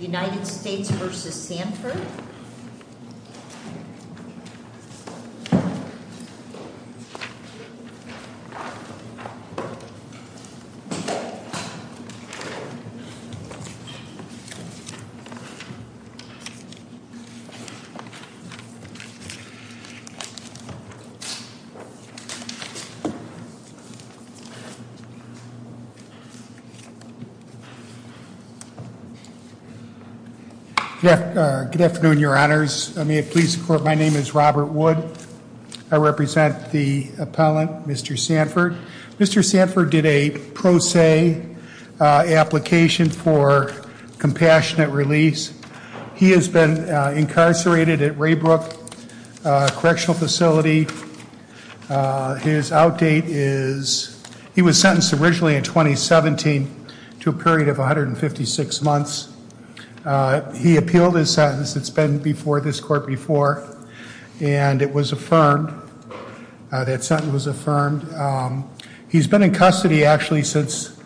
United States v. Sanford Good afternoon, your honors. May it please the court, my name is Robert Wood. I represent the appellant, Mr. Sanford. Mr. Sanford did a pro se application for compassionate release. He has been incarcerated at Raybrook Correctional Facility. His outdate is, he was sentenced originally in 2017 to a period of 156 months. He appealed his sentence, it's been before this court before, and it was affirmed. That sentence was affirmed. He's been in custody actually since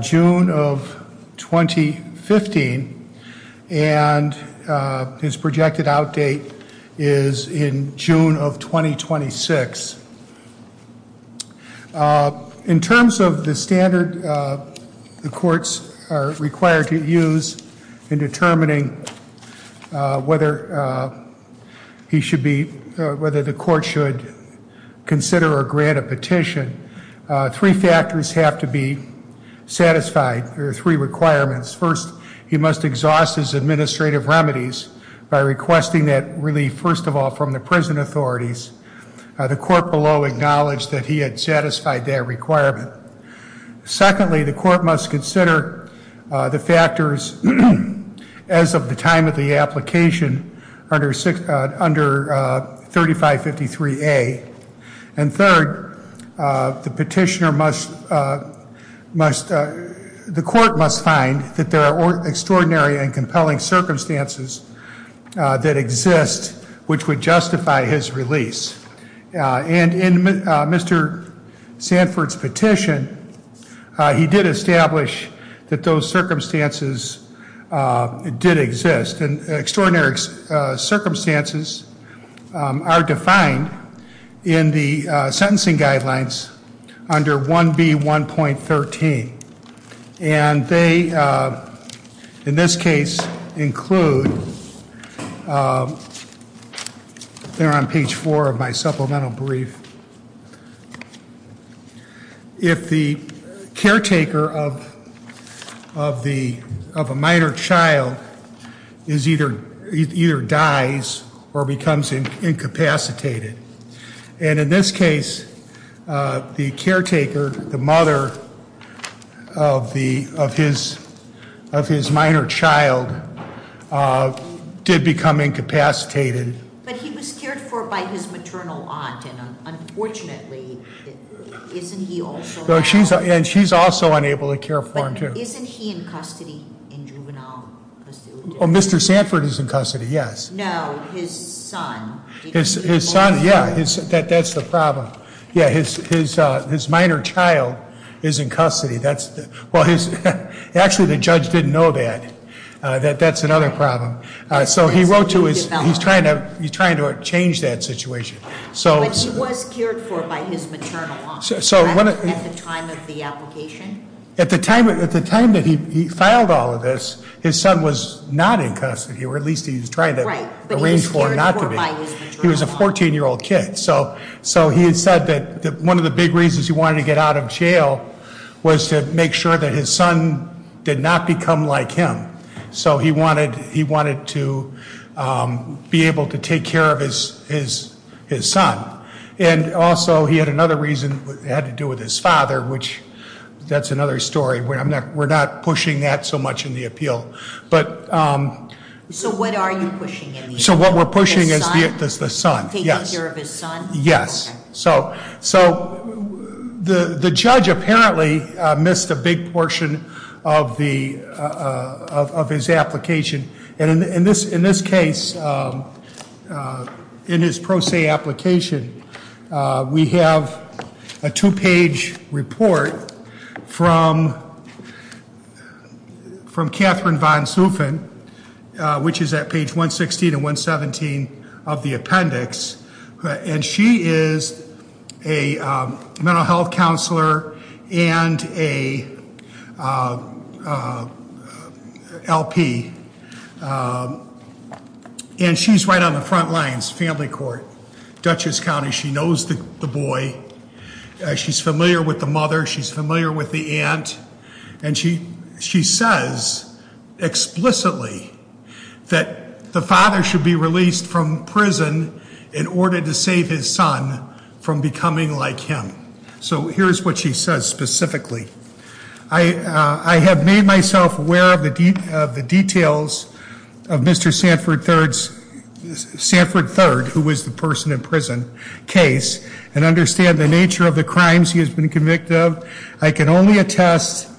June of 2015, and his projected outdate is in June of 2026. In terms of the standard the courts are required to use in determining whether he should be, whether the court should consider or grant a petition, three factors have to be satisfied, or three requirements. First, he must exhaust his administrative remedies by requesting that relief, first of all, from the prison authorities. The court below acknowledged that he had satisfied that requirement. Secondly, the court must consider the factors as of the time of the application under 3553A. And third, the petitioner must, the court must find that there are extraordinary and compelling circumstances that exist which would justify his release. And in Mr. Sanford's petition, he did establish that those circumstances did exist. Extraordinary circumstances are defined in the sentencing guidelines under 1B1.13. And they, in this case, include, they're on page four of my supplemental brief. If the caretaker of a minor child either dies or becomes incapacitated. And in this case, the caretaker, the mother of his minor child did become incapacitated. But he was cared for by his maternal aunt, and unfortunately, isn't he also- And she's also unable to care for him too. But isn't he in custody, in juvenile custody? Oh, Mr. Sanford is in custody, yes. No, his son. His son, yeah, that's the problem. Yeah, his minor child is in custody. Actually, the judge didn't know that, that that's another problem. So he wrote to his, he's trying to change that situation. But he was cared for by his maternal aunt at the time of the application? At the time that he filed all of this, his son was not in custody, or at least he was trying to arrange for not to be. Right, but he was cared for by his maternal aunt. He was a 14-year-old kid. So he had said that one of the big reasons he wanted to get out of jail was to make sure that his son did not become like him. So he wanted to be able to take care of his son. And also, he had another reason that had to do with his father, which that's another story. We're not pushing that so much in the appeal. So what are you pushing in the appeal? So what we're pushing is the son, yes. Taking care of his son? Yes. So the judge apparently missed a big portion of his application. And in this case, in his pro se application, we have a two page report from Catherine Von Sufen, which is at page 116 and 117 of the appendix. And she is a mental health counselor and a LP. And she's right on the front lines, family court, Dutchess County. She knows the boy. She's familiar with the mother. She's familiar with the aunt. And she says explicitly that the father should be released from prison in order to save his son from becoming like him. So here's what she says specifically. I have made myself aware of the details of Mr. Sanford Third, who was the person in prison, case. And understand the nature of the crimes he has been convicted of. I can only attest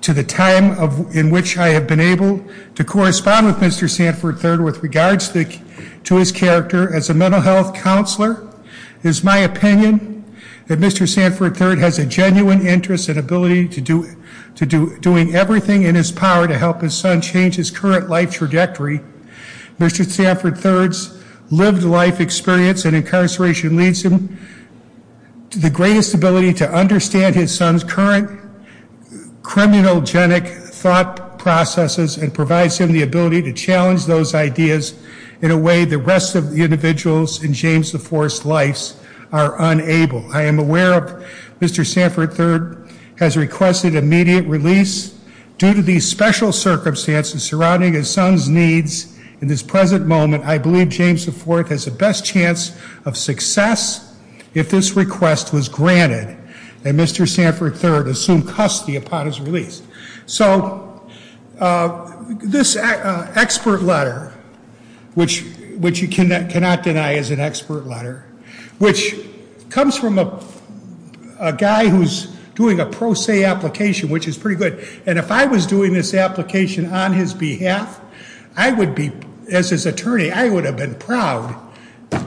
to the time in which I have been able to correspond with Mr. Sanford Third with regards to his character as a mental health counselor. It is my opinion that Mr. Sanford Third has a genuine interest and ability to doing everything in his power to help his son change his current life trajectory. Mr. Sanford Third's lived life experience in incarceration leads him to the greatest ability to understand his son's current criminogenic thought processes and provides him the ability to challenge those ideas in a way the rest of the individuals in James the Fourth's lives are unable. I am aware of Mr. Sanford Third has requested immediate release due to these special circumstances surrounding his son's needs in this present moment. I believe James the Fourth has the best chance of success if this request was granted and Mr. Sanford Third assumed custody upon his release. So this expert letter, which you cannot deny is an expert letter, which comes from a guy who's doing a pro se application, which is pretty good. And if I was doing this application on his behalf, I would be, as his lawyer, I would have been proud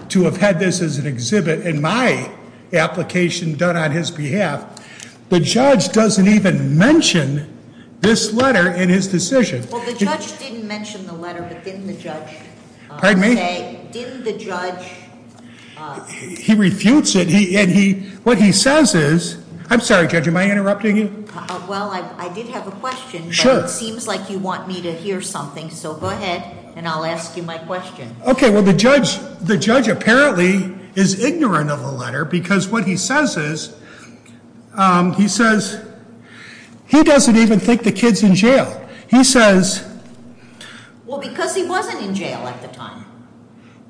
to have had this as an exhibit in my application done on his behalf. The judge doesn't even mention this letter in his decision. Well, the judge didn't mention the letter, but didn't the judge say? Pardon me? Didn't the judge? He refutes it. What he says is, I'm sorry, Judge, am I interrupting you? Well, I did have a question. Sure. But it seems like you want me to hear something. So go ahead, and I'll ask you my question. Okay. Well, the judge apparently is ignorant of the letter, because what he says is, he says, he doesn't even think the kid's in jail. He says. Well, because he wasn't in jail at the time.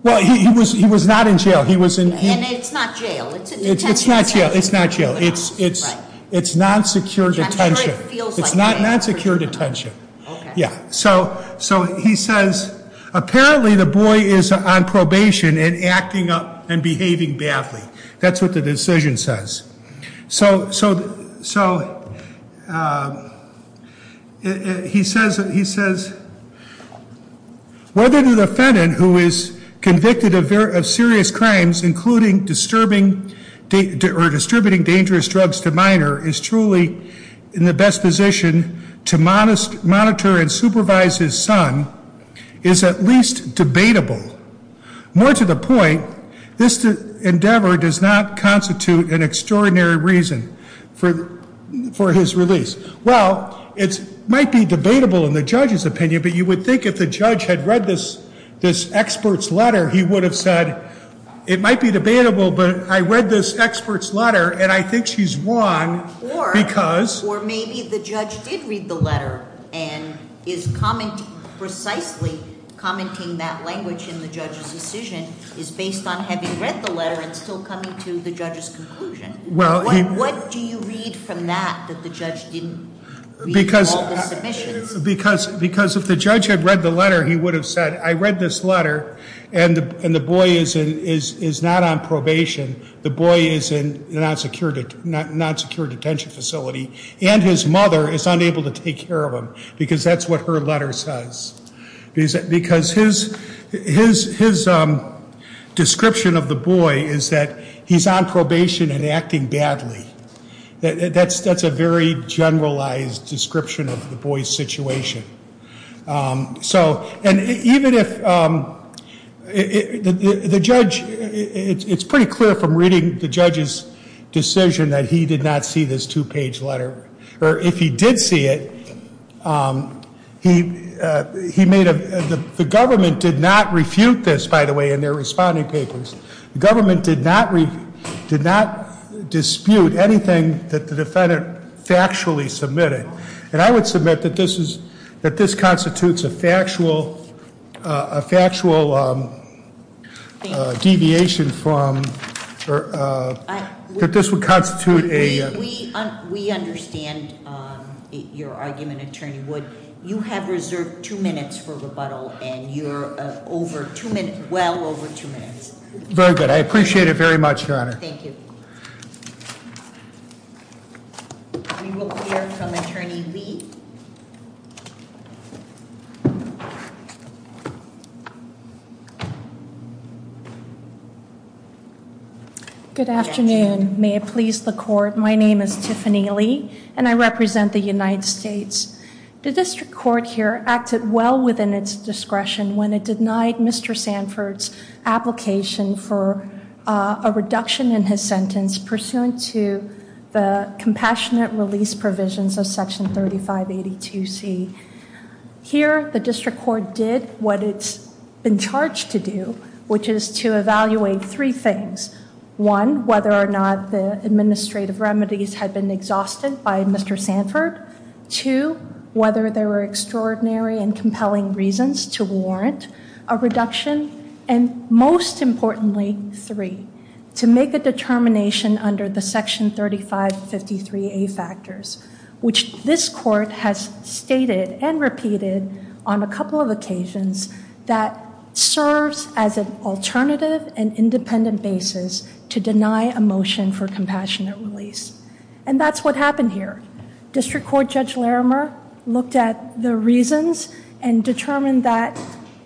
Well, he was not in jail. And it's not jail. It's a detention center. It's not jail. It's not jail. It's non-secure detention. It's not non-secure detention. Okay. Yeah. So he says, apparently the boy is on probation and acting up and behaving badly. That's what the decision says. So he says, whether the defendant, who is convicted of serious crimes, including disturbing or distributing dangerous drugs to minor, is truly in the best position to monitor and supervise his son is at least debatable. More to the point, this endeavor does not constitute an extraordinary reason for his release. Well, it might be debatable in the judge's opinion, but you would think if the judge had read this expert's letter, he would have said, it might be debatable, but I read this expert's letter, and I think she's won because. Or maybe the judge did read the letter and is precisely commenting that language in the judge's decision is based on having read the letter and still coming to the judge's conclusion. What do you read from that that the judge didn't read all the submissions? Because if the judge had read the letter, he would have said, I read this letter, and the boy is not on probation. The boy is in a non-secure detention facility, and his mother is unable to take care of him. Because that's what her letter says. Because his description of the boy is that he's on probation and acting badly. That's a very generalized description of the boy's situation. So, and even if the judge, it's pretty clear from reading the judge's decision that he did not see this two-page letter. Or if he did see it, he made a, the government did not refute this, by the way, in their responding papers. The government did not dispute anything that the defendant factually submitted. And I would submit that this constitutes a factual deviation from, that this would constitute a- We understand your argument, Attorney Wood. You have reserved two minutes for rebuttal, and you're well over two minutes. Very good, I appreciate it very much, Your Honor. Thank you. We will hear from Attorney Lee. Good afternoon, may it please the court. My name is Tiffany Lee, and I represent the United States. The district court here acted well within its discretion when it denied Mr. Sanford's application for a reduction in his sentence pursuant to the compassionate release provisions of section 3582C. Here, the district court did what it's been charged to do, which is to evaluate three things. One, whether or not the administrative remedies had been exhausted by Mr. Sanford. Two, whether there were extraordinary and compelling reasons to warrant a reduction. And most importantly, three, to make a determination under the section 3553A factors, which this court has stated and repeated on a couple of occasions, that serves as an alternative and independent basis to deny a motion for compassionate release. And that's what happened here. District Court Judge Larimer looked at the reasons and determined that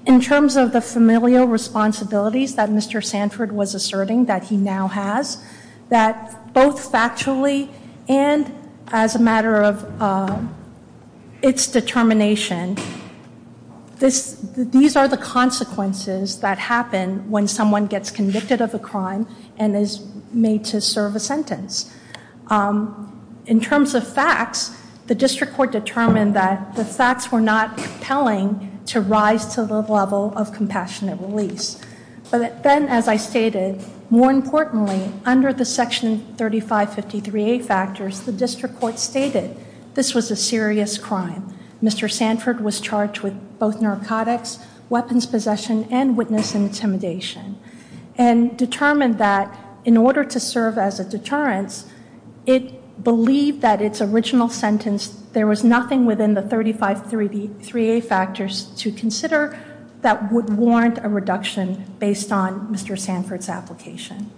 in terms of the familial responsibilities that Mr. Sanford was asserting that he now has, that both factually and as a matter of its determination, these are the consequences that happen when someone gets convicted of a crime and is made to serve a sentence. In terms of facts, the district court determined that the facts were not compelling to rise to the level of compassionate release. But then, as I stated, more importantly, under the section 3553A factors, the district court stated this was a serious crime. Mr. Sanford was charged with both narcotics, weapons possession, and witness intimidation. And determined that in order to serve as a deterrence, it believed that its original sentence, there was nothing within the 3553A factors to consider that would warrant a reduction based on Mr. Sanford's application.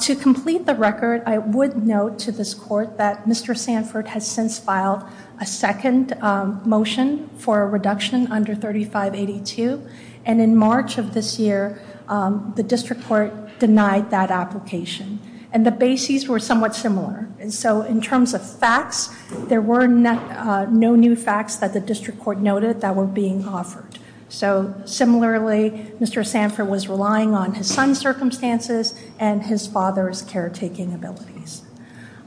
To complete the record, I would note to this court that Mr. Sanford has since filed a second motion for a reduction under 3582. And in March of this year, the district court denied that application. And the bases were somewhat similar. So in terms of facts, there were no new facts that the district court noted that were being offered. So similarly, Mr. Sanford was relying on his son's circumstances and his father's caretaking abilities.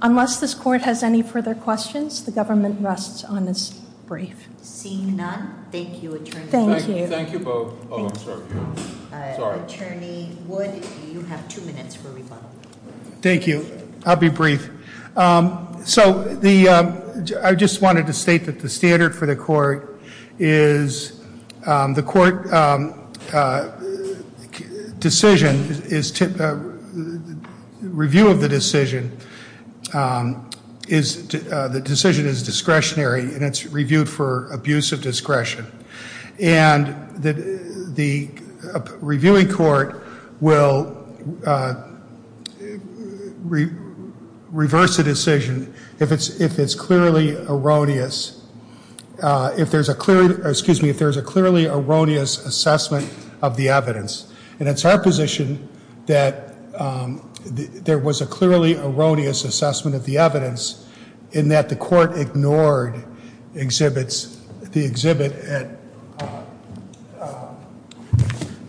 Unless this court has any further questions, the government rests on its brief. Seeing none. Thank you, attorney. Thank you. Thank you both. Oh, I'm sorry. Sorry. Attorney Wood, you have two minutes for rebuttal. Thank you. I'll be brief. So I just wanted to state that the standard for the court is, the court decision is, review of the decision, the decision is discretionary and it's reviewed for abuse of discretion. And the reviewing court will reverse the decision if it's clearly erroneous, if there's a clearly erroneous assessment of the evidence. And it's our position that there was a clearly erroneous assessment of the evidence in that the court ignored the exhibit at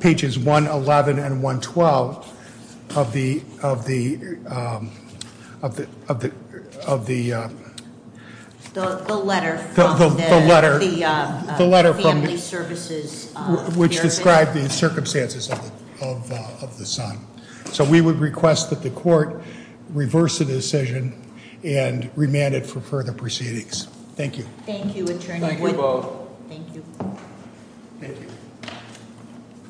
pages 111 and 112 of the- The letter from the- The letter from- The family services- Which described the circumstances of the son. So we would request that the court reverse the decision and remand it for further proceedings. Thank you. Thank you, attorney. Thank you both. Thank you. Thank you.